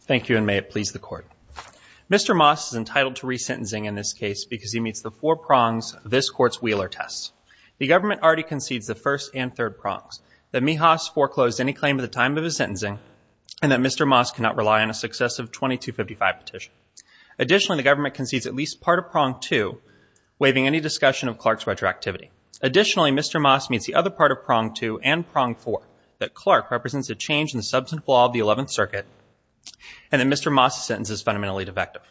Thank you and may it please the court. Mr. Moss is entitled to resentencing in this case because he meets the four prongs this court's Wheeler tests. The government already concedes the first and third prongs that Mehas foreclosed any claim at the time of his sentencing and that Mr. Moss cannot rely on a successive 2255 petition. Additionally the government concedes at least part of prong two waiving any discussion of Clark's retroactivity. Additionally Mr. Moss meets the other part of prong two and prong four that Clark represents a change in the law of the 11th circuit and that Mr. Moss' sentence is fundamentally defective.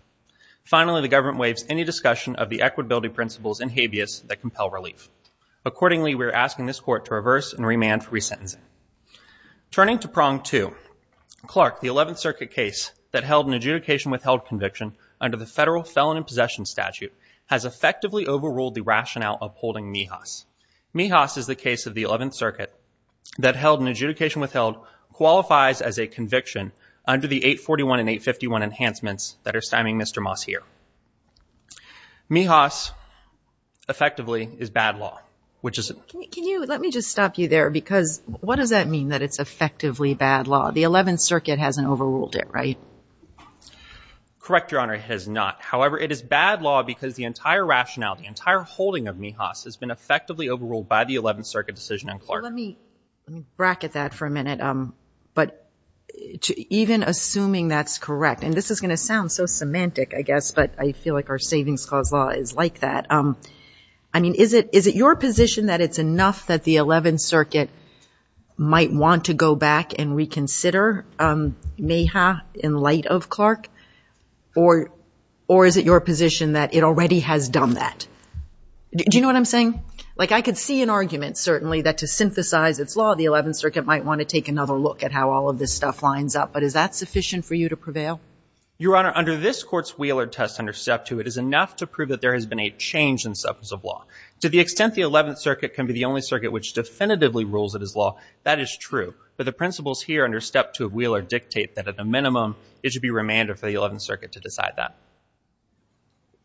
Finally the government waives any discussion of the equitability principles and habeas that compel relief. Accordingly we're asking this court to reverse and remand for resentencing. Turning to prong two, Clark the 11th circuit case that held an adjudication withheld conviction under the federal felon in possession statute has effectively overruled the rationale of holding Mehas. Mehas is the case of the 11th circuit that held an adjudication withheld qualifies as a conviction under the 841 and 851 enhancements that are stymieing Mr. Moss here. Mehas effectively is bad law which is. Can you let me just stop you there because what does that mean that it's effectively bad law? The 11th circuit hasn't overruled it right? Correct your honor it has not however it is bad law because the entire rationale the entire holding of Mehas has been effectively overruled by the 11th circuit decision in Clark. Let me bracket that for a minute um but even assuming that's correct and this is going to sound so semantic I guess but I feel like our savings clause law is like that um I mean is it is it your position that it's enough that the 11th is it your position that it already has done that? Do you know what I'm saying? Like I could see an argument certainly that to synthesize its law the 11th circuit might want to take another look at how all of this stuff lines up but is that sufficient for you to prevail? Your honor under this court's Wheeler test under step two it is enough to prove that there has been a change in substance of law. To the extent the 11th circuit can be the only circuit which definitively rules it as law that is true but the principles here under step two of Wheeler dictate that at a minimum it should be remanded for the 11th circuit to decide that.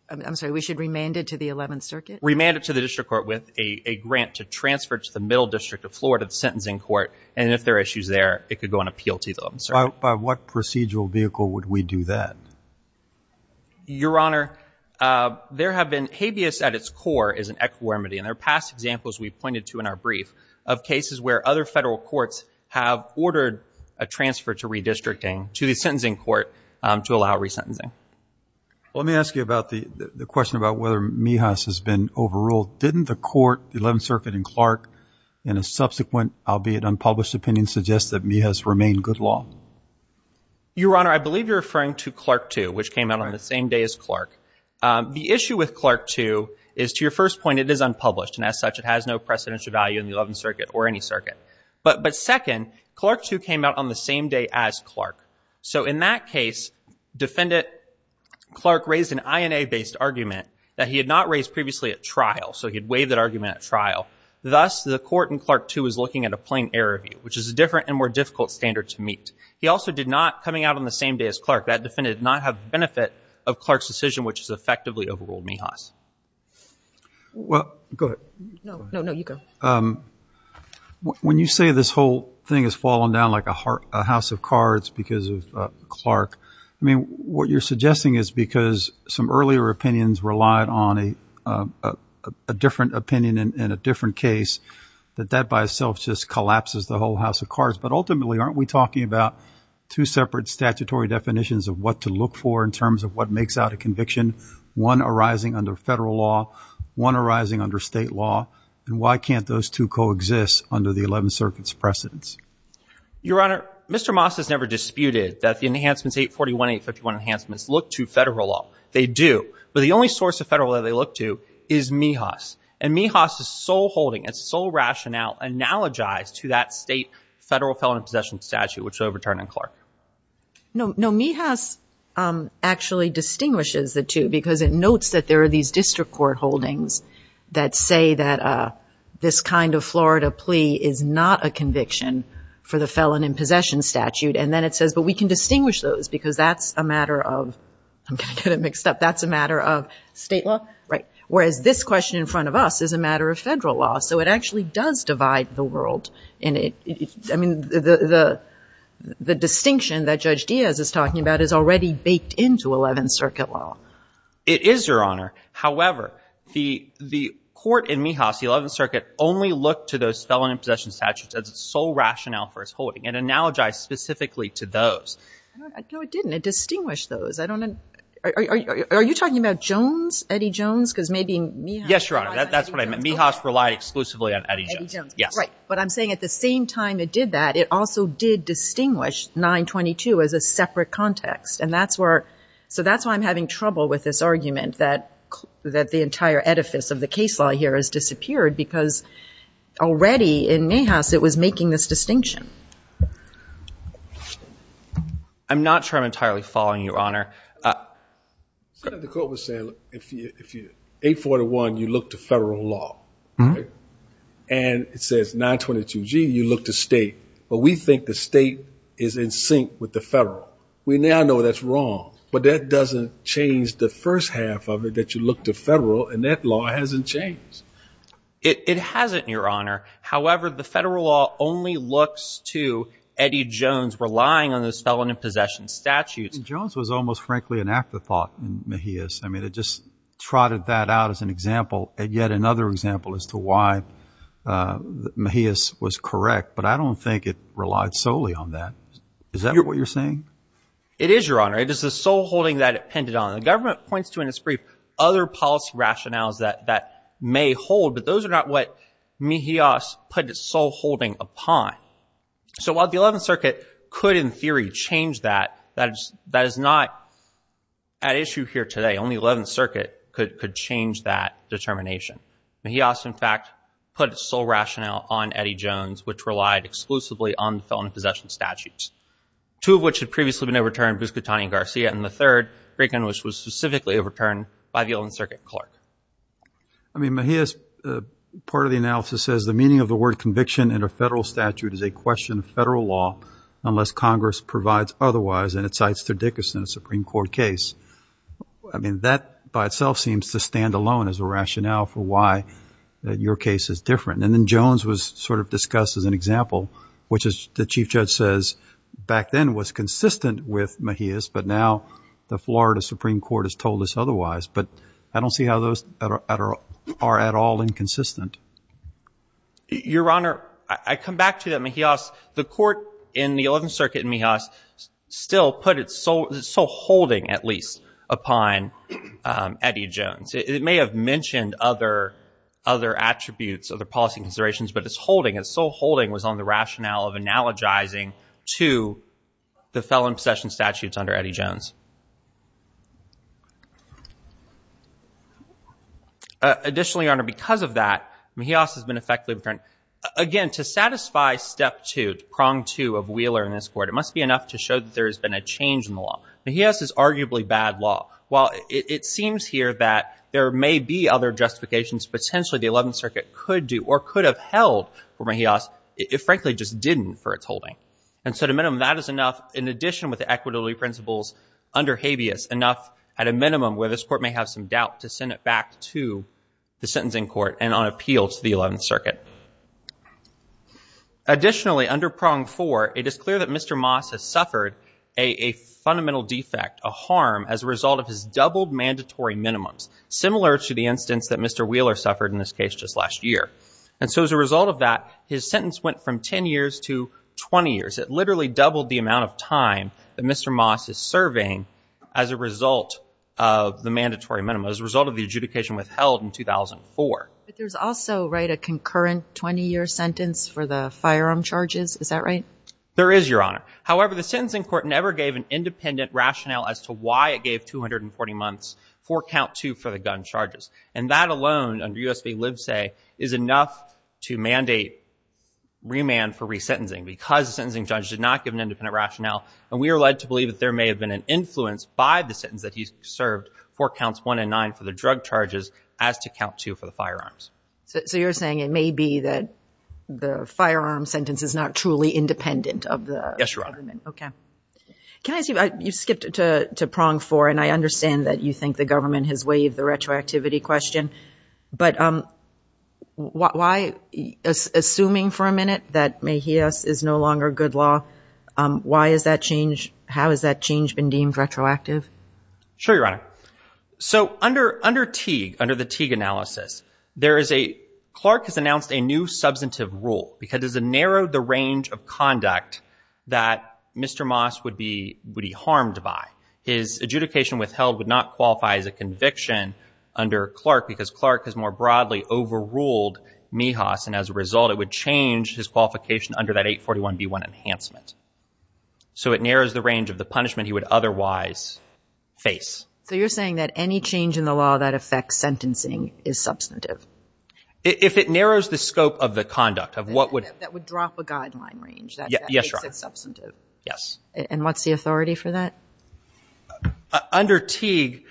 I'm sorry we should remand it to the 11th circuit? Remand it to the district court with a a grant to transfer to the middle district of Florida the sentencing court and if there are issues there it could go and appeal to them. By what procedural vehicle would we do that? Your honor uh there have been habeas at its core is an equanimity and there are past examples we've pointed to in our brief of cases where other to allow resentencing. Let me ask you about the the question about whether Mihas has been overruled. Didn't the court the 11th circuit and Clark in a subsequent albeit unpublished opinion suggest that Mihas remained good law? Your honor I believe you're referring to Clark 2 which came out on the same day as Clark. The issue with Clark 2 is to your first point it is unpublished and as such it has no precedential value in the 11th circuit or any circuit but but second Clark 2 came out on the same day as Clark so in that case defendant Clark raised an INA based argument that he had not raised previously at trial so he'd waive that argument at trial thus the court in Clark 2 is looking at a plain error view which is a different and more difficult standard to meet. He also did not coming out on the same day as Clark that defendant did not have benefit of Clark's decision which has effectively overruled Mihas. Well go ahead. No no you go. Um when you say this whole thing has fallen down like a heart a house of cards because of Clark I mean what you're suggesting is because some earlier opinions relied on a a different opinion in a different case that that by itself just collapses the whole house of cards but ultimately aren't we talking about two separate statutory definitions of what to look for in terms of what makes out a conviction one arising under federal law one arising under state law and why can't those two coexist under the 11th circuit's precedence? Your honor Mr. Moss has never disputed that the enhancements 841 851 enhancements look to federal law they do but the only source of federal that they look to is Mihas and Mihas' sole holding its sole rationale analogized to that state federal felon possession statute which overturned in Clark. No no Mihas um actually distinguishes the two because it notes that there are these district court holdings that say that uh this kind of Florida plea is not a conviction for the felon in possession statute and then it says but we can distinguish those because that's a matter of I'm going to get it mixed up that's a matter of state law right whereas this question in front of us is a matter of federal law so it actually does divide the world and it I mean the the the distinction that Judge Diaz is talking about is already baked into 11th circuit law. It is your honor however the the court in Mihas the 11th circuit only looked to felon in possession statutes as its sole rationale for its holding and analogized specifically to those. I know it didn't it distinguished those I don't know are you talking about Jones Eddie Jones because maybe yes your honor that's what I meant Mihas relied exclusively on Eddie Jones yes right but I'm saying at the same time it did that it also did distinguish 922 as a separate context and that's where so that's why I'm having trouble with this argument that that the entire edifice of the case law here has disappeared because already in Mihas it was making this distinction. I'm not sure I'm entirely following your honor. The court was saying if you if you 841 you look to federal law and it says 922g you look to state but we think the state is in sync with the federal we now know that's wrong but that doesn't change the first half of it that you look to federal and that law hasn't changed it it hasn't your honor however the federal law only looks to Eddie Jones relying on those felon in possession statutes. Jones was almost frankly an afterthought in Mihas I mean it just trotted that out as an example and yet another example as to why uh Mihas was correct but I don't think it relied solely on that is that what you're saying it is your honor it is the sole holding that it pinned it on the government points to in its brief other policy rationales that that may hold but those are not what Mihas put its sole holding upon so while the 11th circuit could in theory change that that is that is not at issue here today only 11th circuit could could change that determination. Mihas in fact put its sole rationale on Eddie Jones which relied exclusively on the felon in possession statutes two of which had previously been overturned Buscatani and Garcia and the third Reagan which was specifically overturned by the 11th circuit clerk. I mean Mihas part of the analysis says the meaning of the word conviction in a federal statute is a question of federal law unless congress provides otherwise and it cites Sir Dickerson a supreme court case I mean that by itself seems to stand alone as a rationale for why that your case is different and then Jones was sort of discussed as an example which is the chief judge says back then was consistent with Mihas but now the Florida supreme court has told us otherwise but I don't see how those are at all inconsistent. Your honor I come back to that Mihas the court in the 11th circuit in Mihas still put its sole holding at least upon Eddie Jones it may have mentioned other other attributes of the policy considerations but its holding its sole holding was on the felon in possession statutes under Eddie Jones. Additionally your honor because of that Mihas has been effectively returned again to satisfy step two prong two of Wheeler in this court it must be enough to show that there has been a change in the law. Mihas is arguably bad law while it seems here that there may be other justifications potentially the 11th circuit could do or could have held for Mihas it frankly just didn't for its holding and so to minimum that is enough in addition with the equitability principles under habeas enough at a minimum where this court may have some doubt to send it back to the sentencing court and on appeal to the 11th circuit. Additionally under prong four it is clear that Mr. Maas has suffered a fundamental defect a harm as a result of his doubled mandatory minimums similar to the instance that Mr. Wheeler suffered in this case just last year and so as a result of his sentence went from 10 years to 20 years it literally doubled the amount of time that Mr. Maas is serving as a result of the mandatory minimum as a result of the adjudication withheld in 2004. But there's also right a concurrent 20-year sentence for the firearm charges is that right? There is your honor however the sentencing court never gave an independent rationale as to why it gave 240 months for count two for the gun charges and that alone under U.S. v. Livesay is enough to mandate remand for resentencing because the sentencing judge did not give an independent rationale and we are led to believe that there may have been an influence by the sentence that he served for counts one and nine for the drug charges as to count two for the firearms. So you're saying it may be that the firearm sentence is not truly independent of the Yes your honor. Okay can I see you skipped to prong four and I understand that you think the government has retroactivity question but um why assuming for a minute that may he us is no longer good law why is that change how has that change been deemed retroactive? Sure your honor so under under Teague under the Teague analysis there is a clerk has announced a new substantive rule because it's a narrowed the range of conduct that Mr. Maas would be would be harmed by. His adjudication withheld would not qualify as a conviction under Clark because Clark has more broadly overruled Mihas and as a result it would change his qualification under that 841b1 enhancement. So it narrows the range of the punishment he would otherwise face. So you're saying that any change in the law that affects sentencing is substantive? If it narrows the scope of the conduct of what would. That would drop a guideline range. Yes your honor. Substantive. Yes. And what's the authority for that? Under Teague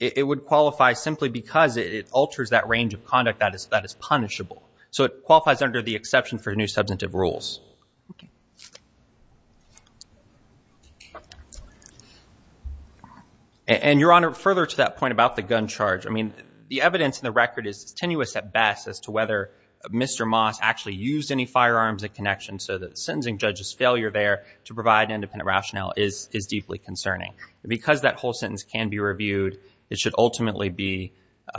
it would qualify simply because it alters that range of conduct that is that is punishable. So it qualifies under the exception for new substantive rules. And your honor further to that point about the gun charge I mean the evidence in the record is tenuous at best as to whether Mr. Maas actually used any firearms in connection so that the sentencing judge's failure there to provide independent rationale is is deeply concerning. Because that whole sentence can be reviewed it should ultimately be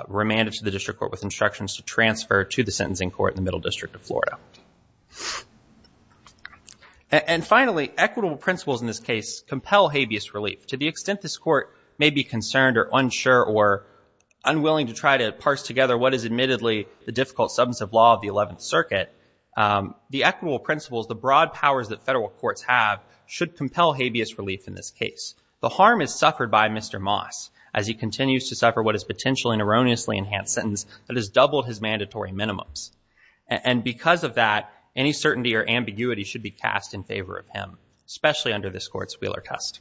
remanded to the district court with instructions to transfer to the sentencing court in the middle district of Florida. And finally equitable principles in this case compel habeas relief. To the extent this court may be concerned or unsure or unwilling to try to parse together what is admittedly the difficult substantive law of the 11th circuit the equitable principles the broad powers that federal courts have should compel habeas relief in this case. The harm is suffered by Mr. Maas as he continues to suffer what is potentially an erroneously enhanced sentence that has doubled his mandatory minimums. And because of that any certainty or ambiguity should be cast in favor of him especially under this court's Wheeler test.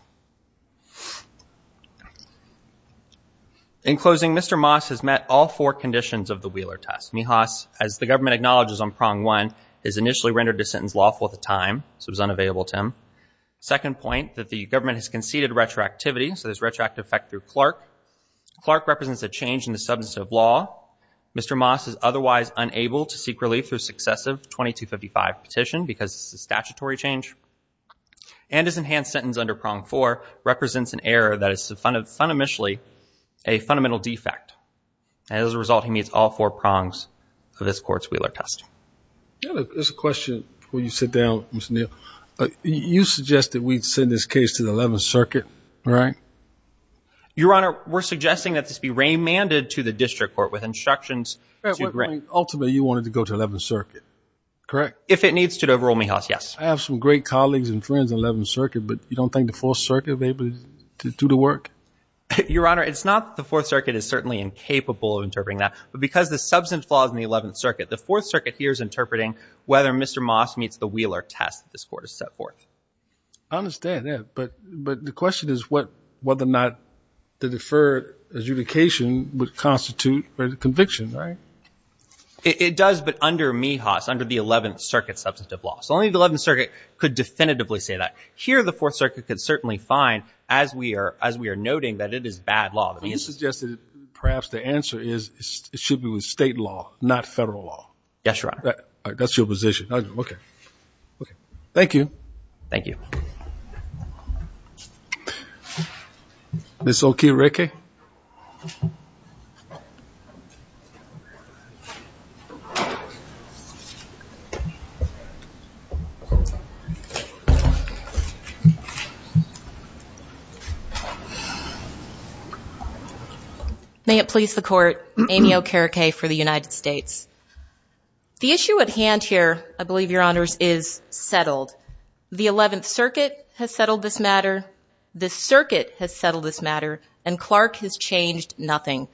In closing Mr. Maas has met all four conditions of the Wheeler test. Mihas as the government acknowledges on prong one is initially rendered to sentence lawful at the time so it was unavailable to him. Second point that the government has conceded retroactivity so there's retroactive effect through Clark. Clark represents a change in the substantive law. Mr. Maas is otherwise unable to seek relief through successive 2255 petition because it's a statutory change and his enhanced sentence under prong four represents an error that is fundamentally a fundamental defect. As a result he meets all four prongs of this court's Wheeler test. There's a question when you sit down Mr. Neal. You suggest that we'd send this case to the 11th circuit right? Your honor we're suggesting that this be remanded to the district court with instructions. Ultimately you wanted to go to 11th circuit correct? If it needs to overall yes. I have some great colleagues and friends in 11th circuit but you don't think the fourth circuit is able to do the work? Your honor it's not the fourth circuit is certainly incapable of interpreting that but because the substance flaws in the 11th circuit the fourth circuit here is interpreting whether Mr. Maas meets the Wheeler test this court has set forth. I understand that but but the question is what whether or not the deferred adjudication would constitute a conviction right? It does but under Mihas under the 11th circuit substantive law so only the 11th circuit could definitively say that. Here the fourth circuit could certainly find as we are as we are noting that it is bad law. You suggested perhaps the answer is it should be with state law not federal law. Yes your honor. That's your position okay okay. Thank you. Thank you. Ms. Okiereke. May it please the court. Amy Okiereke for the United States. The issue at hand here I believe your honors is settled. The 11th circuit has settled this matter. The circuit has settled this matter and Clark has changed nothing.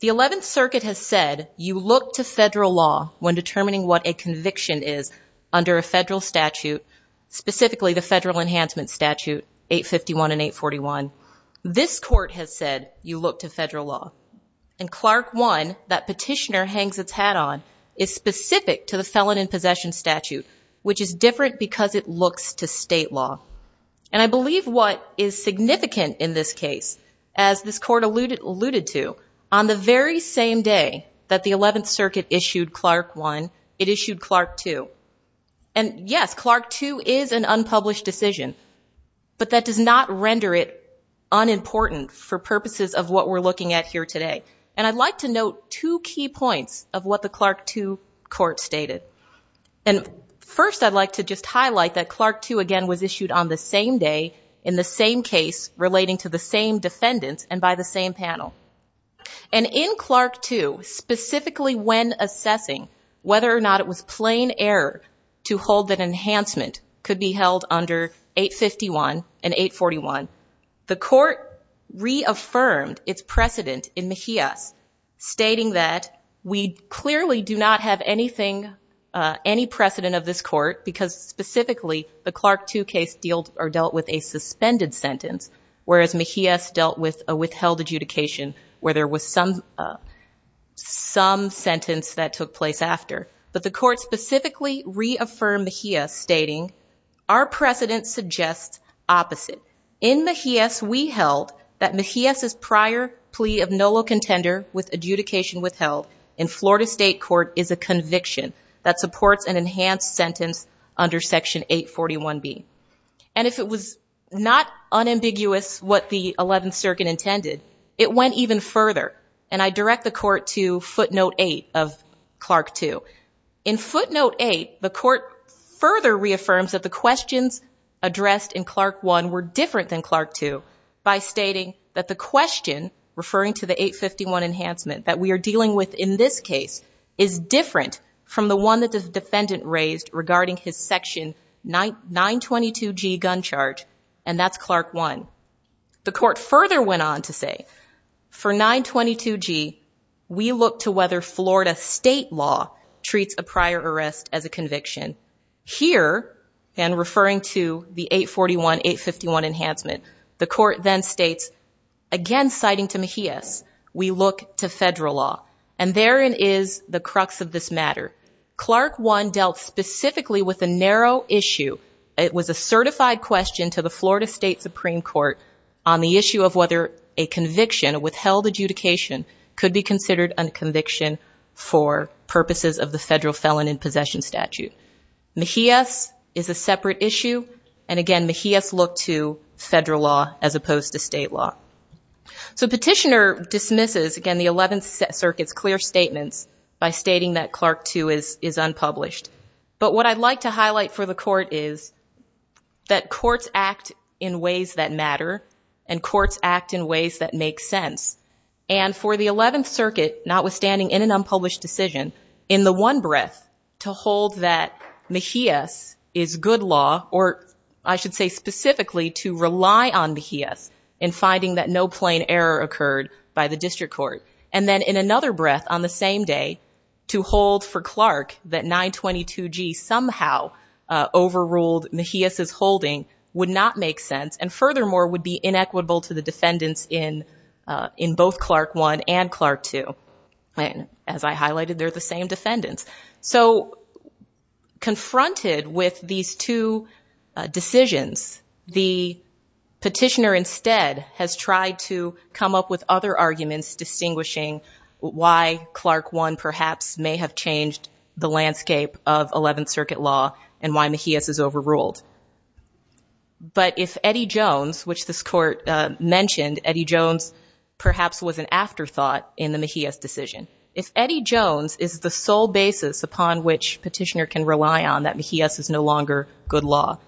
The 11th circuit has said you look to federal law when determining what a conviction is under a federal statute. The 11th circuit has said specifically the federal enhancement statute 851 and 841. This court has said you look to federal law and Clark 1 that petitioner hangs its hat on is specific to the felon in possession statute which is different because it looks to state law and I believe what is significant in this case as this court alluded alluded to on the very same day that the 11th circuit issued Clark 1 it issued Clark 2 and yes Clark 2 is an unpublished decision but that does not render it unimportant for purposes of what we're looking at here today and I'd like to note two key points of what the Clark 2 court stated and first I'd like to just highlight that Clark 2 again was issued on the same day in the same case relating to the same defendant and by the same panel and in Clark 2 specifically when assessing whether or not it was plain error to hold that enhancement could be held under 851 and 841 the court reaffirmed its precedent in Mejias stating that we clearly do not have anything uh any precedent of this court because specifically the Clark 2 case dealt or dealt with a suspended sentence whereas Mejias dealt with a withheld adjudication where there was some some sentence that took place after but the court specifically reaffirmed Mejias stating our precedent suggests opposite in Mejias we held that Mejias's prior plea of nolo contender with adjudication withheld in Florida state court is a conviction that supports an enhanced sentence under section 841b and if it was not unambiguous what the 11th circuit intended it went even further and I direct the court to footnote 8 of Clark 2 in footnote 8 the court further reaffirms that the questions addressed in Clark 1 were different than Clark 2 by stating that the question referring to the 851 enhancement that we are dealing with in this case is different from the one that the defendant raised regarding his section 922g gun charge and that's Clark 1 the court further went on to say for 922g we look to whether Florida state law treats a prior arrest as a conviction here and referring to the 841 851 enhancement the court then states again citing to Mejias we look to federal law and therein is the crux of this matter Clark 1 dealt specifically with a narrow issue it was a certified question to the Florida state supreme court on the issue of whether a conviction withheld adjudication could be considered a conviction for purposes of the federal felon in possession statute Mejias is a separate issue and again Mejias looked to federal law as opposed to state law so petitioner dismisses again the is unpublished but what I'd like to highlight for the court is that courts act in ways that matter and courts act in ways that make sense and for the 11th circuit notwithstanding in an unpublished decision in the one breath to hold that Mejias is good law or I should say specifically to rely on Mejias in finding that no plain error occurred by the district court and then in another breath on the same day to hold for Clark that 922g somehow overruled Mejias is holding would not make sense and furthermore would be inequitable to the defendants in in both Clark 1 and Clark 2 and as I highlighted they're the same defendants so confronted with these two decisions the perhaps may have changed the landscape of 11th circuit law and why Mejias is overruled but if Eddie Jones which this court mentioned Eddie Jones perhaps was an afterthought in the Mejias decision if Eddie Jones is the sole basis upon which petitioner can rely on that Mejias is no longer good law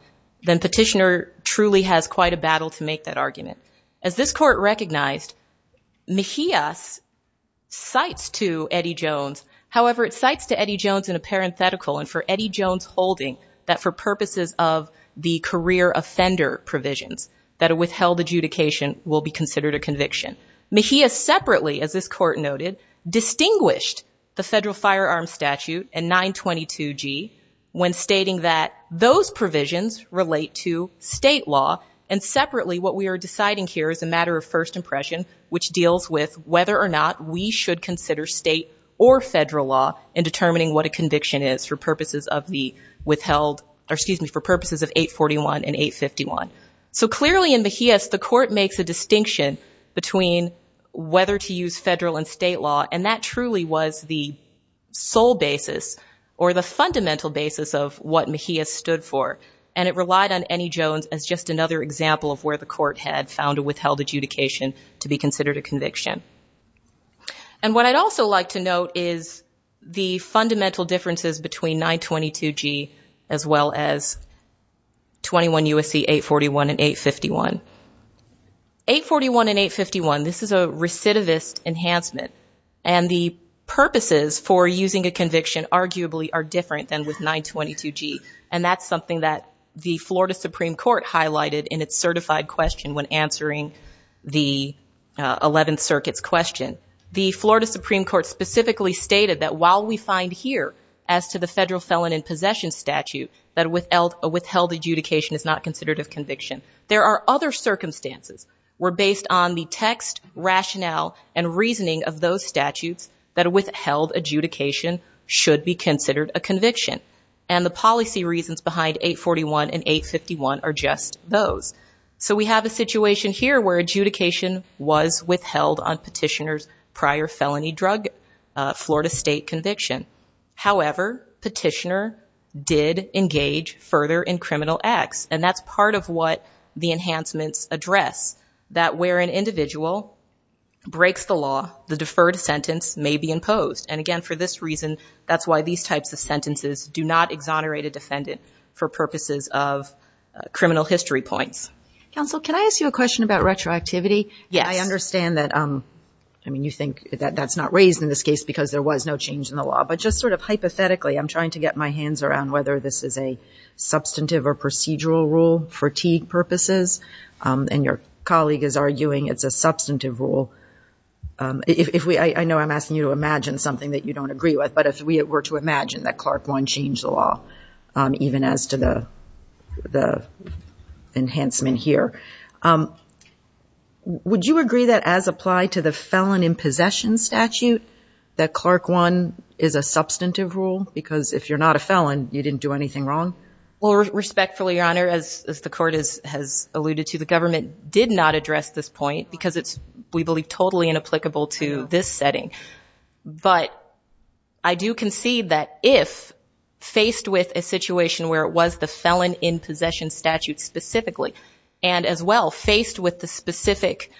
then petitioner truly has quite a battle to make that argument as this court recognized Mejias cites to Eddie Jones however it cites to Eddie Jones in a parenthetical and for Eddie Jones holding that for purposes of the career offender provisions that a withheld adjudication will be considered a conviction Mejias separately as this court noted distinguished the federal firearm statute and 922g when stating that those provisions relate to state law and which deals with whether or not we should consider state or federal law in determining what a conviction is for purposes of the withheld or excuse me for purposes of 841 and 851 so clearly in Mejias the court makes a distinction between whether to use federal and state law and that truly was the sole basis or the fundamental basis of what Mejias stood for and it relied on Eddie example of where the court had found a withheld adjudication to be considered a conviction and what I'd also like to note is the fundamental differences between 922g as well as 21 USC 841 and 851. 841 and 851 this is a recidivist enhancement and the purposes for using a conviction arguably are different than with 922g and that's something that the Florida Supreme Court highlighted in its certified question when answering the 11th circuit's question the Florida Supreme Court specifically stated that while we find here as to the federal felon in possession statute that withheld adjudication is not considered a conviction there are other circumstances where based on the text rationale and reasoning of those statutes that withheld adjudication should be considered a conviction and the policy reasons behind 841 and 851 are just those so we have a situation here where adjudication was withheld on petitioner's prior felony drug Florida state conviction however petitioner did engage further in criminal acts and that's part of what the enhancements address that where an individual breaks the law the reason that's why these types of sentences do not exonerate a defendant for purposes of criminal history points. Counsel can I ask you a question about retroactivity? Yes. I understand that I mean you think that that's not raised in this case because there was no change in the law but just sort of hypothetically I'm trying to get my hands around whether this is a substantive or procedural rule for T purposes and your colleague is arguing it's a substantive rule if we I know I'm asking you to imagine something that you don't agree with but if we were to imagine that Clark won change the law even as to the the enhancement here would you agree that as applied to the felon in possession statute that Clark won is a substantive rule because if you're not a felon you didn't do anything wrong? Well respectfully your honor as the court is has alluded to the government did not this setting but I do concede that if faced with a situation where it was the felon in possession statute specifically and as well faced with the specific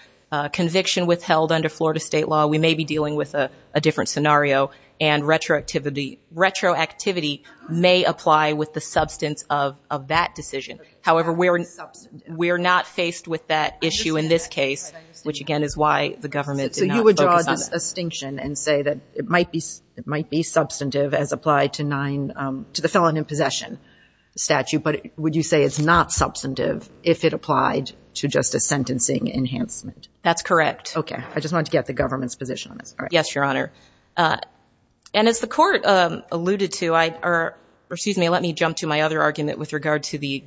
conviction withheld under Florida state law we may be dealing with a different scenario and retroactivity retroactivity may apply with the substance of of that decision however we're we're not faced with that issue in this case which again is why the government so you would draw this distinction and say that it might be it might be substantive as applied to nine um to the felon in possession statute but would you say it's not substantive if it applied to just a sentencing enhancement? That's correct. Okay I just wanted to get the government's position on this. Yes your honor and as the court um alluded to I or excuse me let me jump to my other argument with regard to the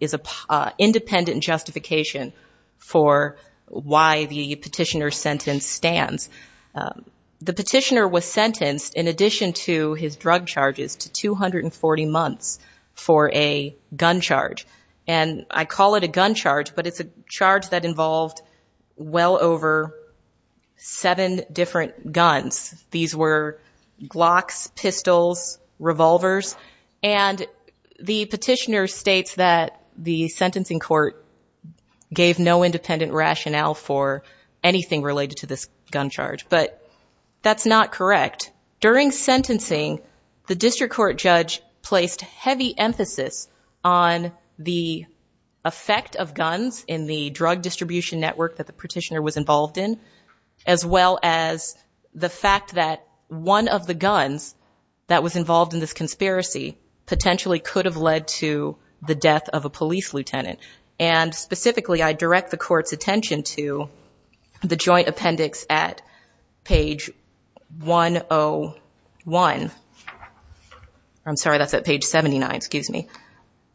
is a independent justification for why the petitioner sentence stands. The petitioner was sentenced in addition to his drug charges to 240 months for a gun charge and I call it a gun charge but it's a charge that involved well over seven different guns. These were glocks pistols revolvers and the petitioner states that the sentencing court gave no independent rationale for anything related to this gun charge but that's not correct. During sentencing the district court judge placed heavy emphasis on the effect of guns in the drug distribution network that the petitioner involved in as well as the fact that one of the guns that was involved in this conspiracy potentially could have led to the death of a police lieutenant and specifically I direct the court's attention to the joint appendix at page 101. I'm sorry that's at page 79 excuse me.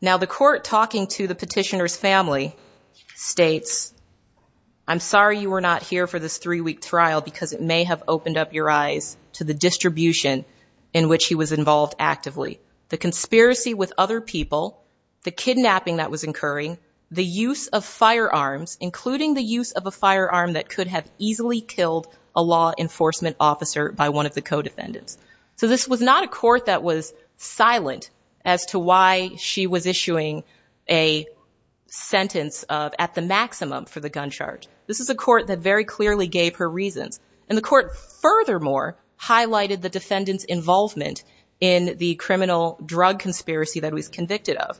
Now the court talking to the petitioner's family states I'm sorry you were not here for this three-week trial because it may have opened up your eyes to the distribution in which he was involved actively. The conspiracy with other people, the kidnapping that was occurring, the use of firearms including the use of a firearm that could have easily killed a law enforcement officer by one of the co-defendants. So this was not a court that was silent as to why she was issuing a sentence of at the maximum for the gun charge. This is a court that very clearly gave her reasons and the court furthermore highlighted the defendant's involvement in the criminal drug conspiracy that was convicted of.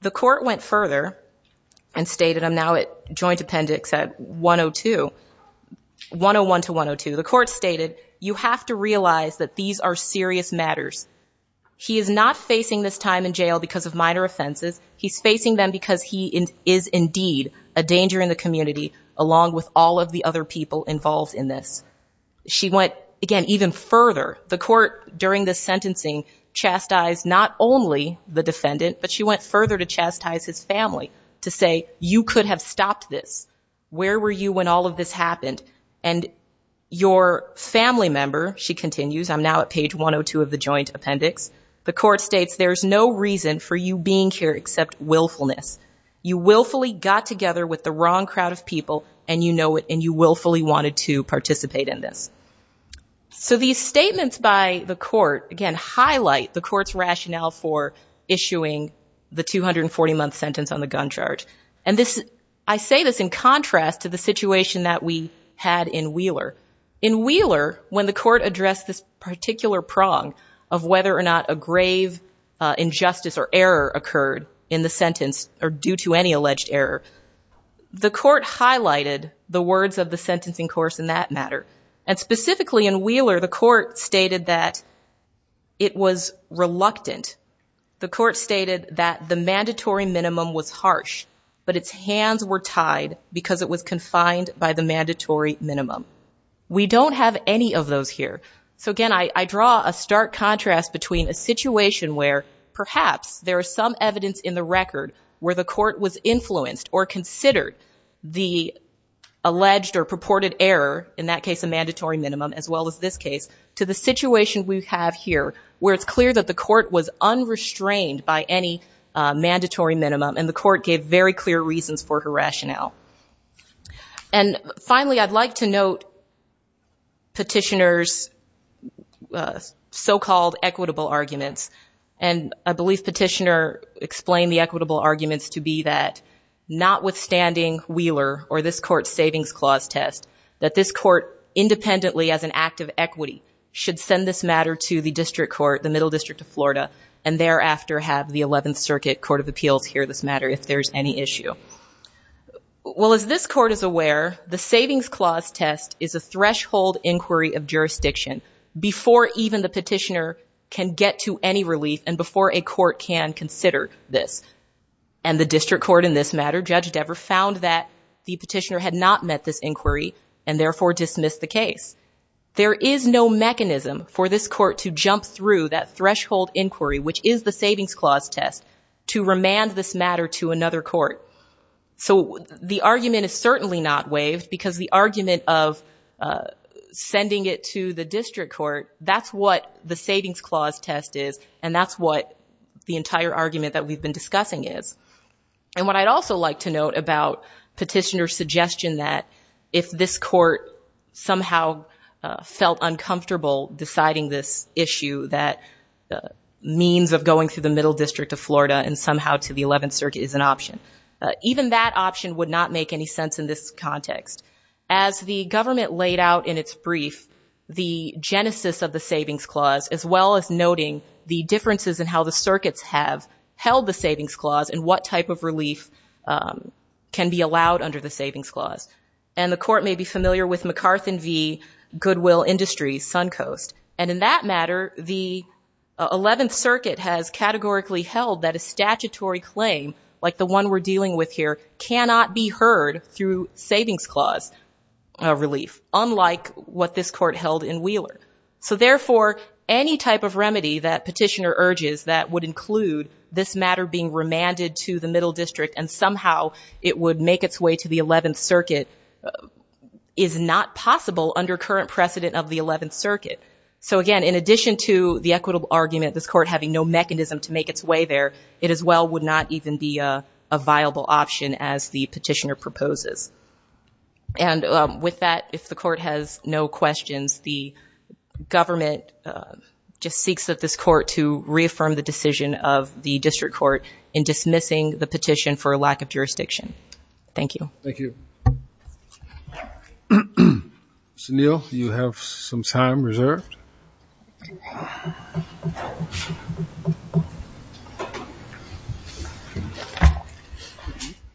The court went further and stated I'm now at joint appendix at 102, 101 to 102. The court stated you have to realize that these are serious matters. He is not facing this time in jail because of minor offenses. He's facing them because he is indeed a danger in the community along with all of the other people involved in this. She went again even further the court during the sentencing chastised not only the defendant but she went further to chastise his family to say you could have stopped this. Where were you when all of this happened? And your family member, she continues, I'm now at page 102 of the joint appendix. The court states there's no reason for you being here except willfulness. You willfully got together with the wrong crowd of people and you know it and you willfully wanted to participate in this. So these statements by the court again highlight the court's rationale for issuing the in Wheeler. In Wheeler when the court addressed this particular prong of whether or not a grave injustice or error occurred in the sentence or due to any alleged error, the court highlighted the words of the sentencing course in that matter and specifically in Wheeler the court stated that it was reluctant. The court stated that the mandatory minimum was harsh but its hands were confined by the mandatory minimum. We don't have any of those here. So again I draw a stark contrast between a situation where perhaps there is some evidence in the record where the court was influenced or considered the alleged or purported error in that case a mandatory minimum as well as this case to the situation we have here where it's clear that the court was unrestrained by any rationale. And finally I'd like to note petitioner's so-called equitable arguments and I believe petitioner explained the equitable arguments to be that notwithstanding Wheeler or this court's savings clause test that this court independently as an act of equity should send this matter to the district court the middle district of Florida and thereafter have the 11th circuit court of appeals hear this matter if there's any issue. Well as this court is aware the savings clause test is a threshold inquiry of jurisdiction before even the petitioner can get to any relief and before a court can consider this and the district court in this matter Judge Dever found that the petitioner had not met this inquiry and therefore dismissed the case. There is no mechanism for this court to jump through that threshold inquiry which is the savings clause test to remand this matter to another court. So the argument is certainly not waived because the argument of sending it to the district court that's what the savings clause test is and that's what the entire argument that we've been discussing is. And what I'd also like to note about petitioner's if this court somehow felt uncomfortable deciding this issue that means of going through the middle district of Florida and somehow to the 11th circuit is an option. Even that option would not make any sense in this context. As the government laid out in its brief the genesis of the savings clause as well as noting the differences in how the circuits have held the savings clause and what type of and the court may be familiar with MacArthur v. Goodwill Industries Suncoast. And in that matter the 11th circuit has categorically held that a statutory claim like the one we're dealing with here cannot be heard through savings clause relief unlike what this court held in Wheeler. So therefore any type of remedy that petitioner urges that would include this matter being the 11th circuit is not possible under current precedent of the 11th circuit. So again in addition to the equitable argument this court having no mechanism to make its way there it as well would not even be a viable option as the petitioner proposes. And with that if the court has no questions the government just seeks that this court to reaffirm the decision of the district court in dismissing the petition for a lack of jurisdiction. Thank you. Thank you. Mr. Neal you have some time reserved.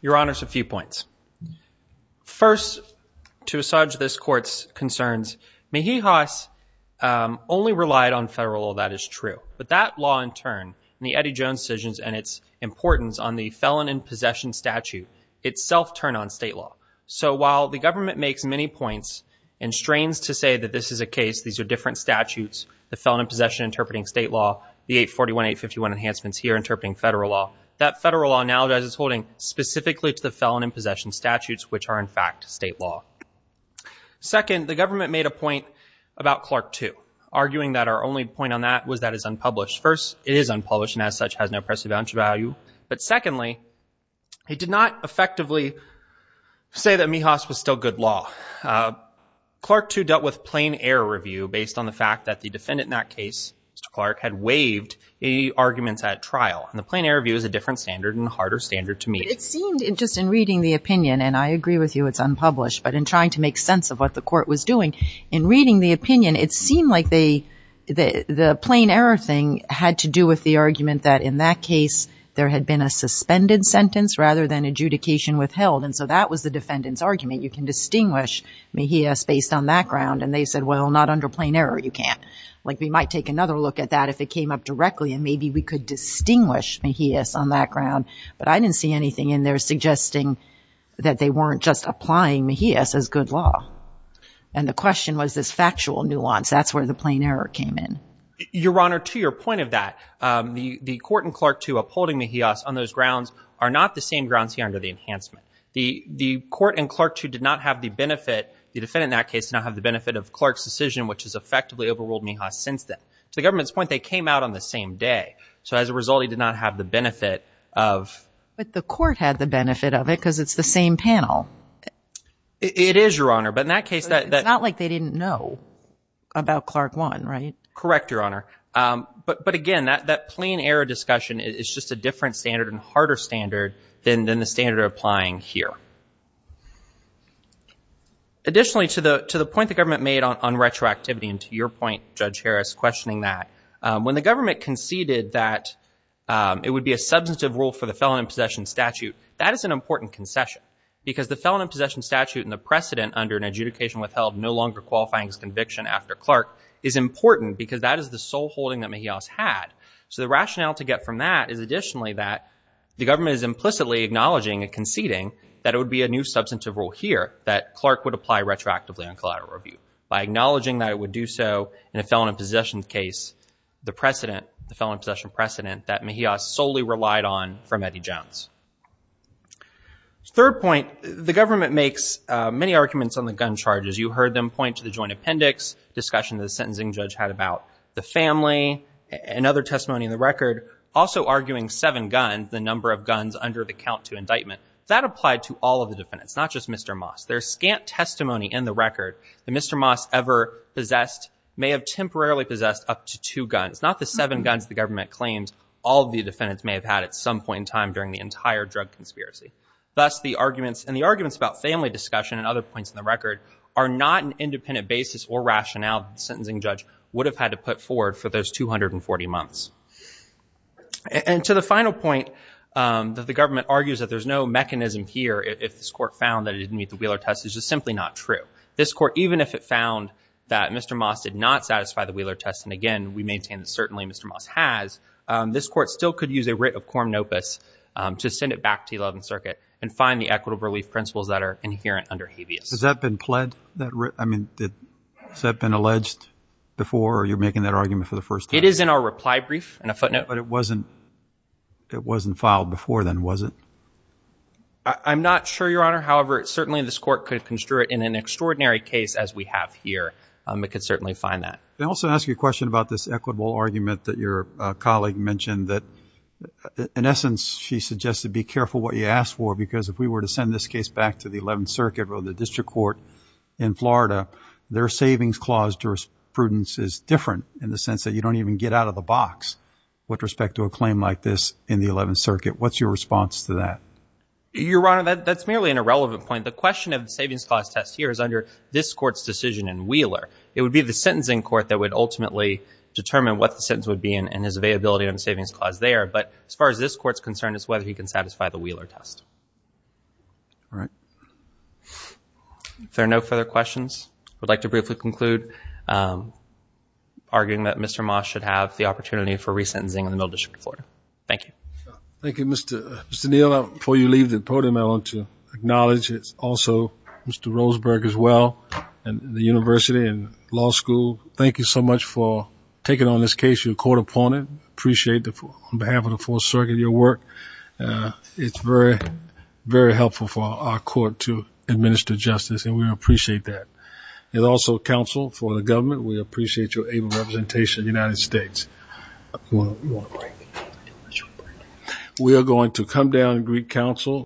Your honors a few points. First to assuage this court's concerns Mejijas only relied on federal law that is true. But that law in turn and the Eddie Jones decisions and its importance on the felon in possession statute itself turn on state law. So while the government makes many points and strains to say that this is a case these are different statutes the felon in possession interpreting state law the 841 851 enhancements here interpreting federal law that federal law now does is holding specifically to the felon in possession statutes which are in fact state law. Second the government made a point about Clark too arguing that our only point on that was that is unpublished. First it is unpublished and as such has no press advantage value. But secondly it did not effectively say that Mejijas was still good law. Clark too dealt with plain error review based on the fact that the defendant in that case Mr. Clark had waived any arguments at trial. And the plain error view is a different standard and harder standard to see. Just in reading the opinion and I agree with you it's unpublished but in trying to make sense of what the court was doing in reading the opinion it seemed like the plain error thing had to do with the argument that in that case there had been a suspended sentence rather than adjudication withheld. And so that was the defendant's argument you can distinguish Mejijas based on that ground and they said well not under plain error you can't. Like we might take another look at that if it came up directly and maybe we could distinguish Mejijas on that and they're suggesting that they weren't just applying Mejijas as good law. And the question was this factual nuance that's where the plain error came in. Your Honor to your point of that the court and Clark too upholding Mejijas on those grounds are not the same grounds here under the enhancement. The court and Clark too did not have the benefit the defendant in that case to not have the benefit of Clark's decision which has effectively overruled Mejijas since then. To the government's point they came out on the same day so as a result he did not have the benefit of. But the court had the benefit of it because it's the same panel. It is Your Honor but in that case. It's not like they didn't know about Clark one right? Correct Your Honor. But again that plain error discussion is just a different standard and harder standard than the standard applying here. Additionally to the to the point the government made on retroactivity and to your point Judge Harris questioning that when the government conceded that it would be a substantive rule for the felon in possession statute that is an important concession because the felon in possession statute and the precedent under an adjudication withheld no longer qualifying his conviction after Clark is important because that is the sole holding that Mejijas had. So the rationale to get from that is additionally that the government is implicitly acknowledging and conceding that it would be a new substantive rule here that Clark would apply retroactively on collateral abuse by acknowledging that it would do so in a felon in possession case. The precedent the felon in possession precedent that Mejijas solely relied on from Eddie Jones. Third point the government makes many arguments on the gun charges. You heard them point to the joint appendix discussion the sentencing judge had about the family and other testimony in the record. Also arguing seven guns the number of guns under the count to indictment. That applied to all of the defendants not just Mr. Moss. There's scant testimony in the record that Mr. Moss ever possessed may have temporarily possessed up to two guns not the seven guns the government claims all the defendants may have had at some point in time during the entire drug conspiracy. Thus the arguments and the arguments about family discussion and other points in the record are not an independent basis or rationale the sentencing judge would have had to put forward for those 240 months. And to the final point that the government argues that there's no mechanism here if this court found that it didn't meet the Wheeler test is just simply not true. This court even if it found that Mr. Moss did not satisfy the Wheeler test and again we maintain that certainly Mr. Moss has this court still could use a writ of quorum nopus to send it back to 11th circuit and find the equitable relief principles that are inherent under habeas. Has that been pled that I mean that has that been alleged before or you're making that argument for the first time? It is in our reply brief and a footnote. But it wasn't it wasn't filed before then was it? I'm not sure your honor however certainly this court could in an extraordinary case as we have here it could certainly find that. I also ask you a question about this equitable argument that your colleague mentioned that in essence she suggested be careful what you ask for because if we were to send this case back to the 11th circuit or the district court in Florida their savings clause jurisprudence is different in the sense that you don't even get out of the box with respect to a claim like this in the 11th circuit. What's your response to that? Your honor that that's merely an irrelevant point. The question of the savings clause test here is under this court's decision in Wheeler. It would be the sentencing court that would ultimately determine what the sentence would be and his availability of the savings clause there but as far as this court's concerned is whether he can satisfy the Wheeler test. All right. If there are no further questions I would like to briefly conclude arguing that Mr. Moss should have the opportunity for resentencing in the middle district of Florida. Thank you. Thank you Mr. Neal. Before you leave the podium I want to acknowledge it's also Mr. Roseberg as well and the university and law school. Thank you so much for taking on this case your court opponent. Appreciate that on behalf of the fourth circuit your work. It's very very helpful for our court to administer justice and we appreciate that. There's also counsel for the government. We appreciate your able representation of the United States. We are going to come down and greet counsel.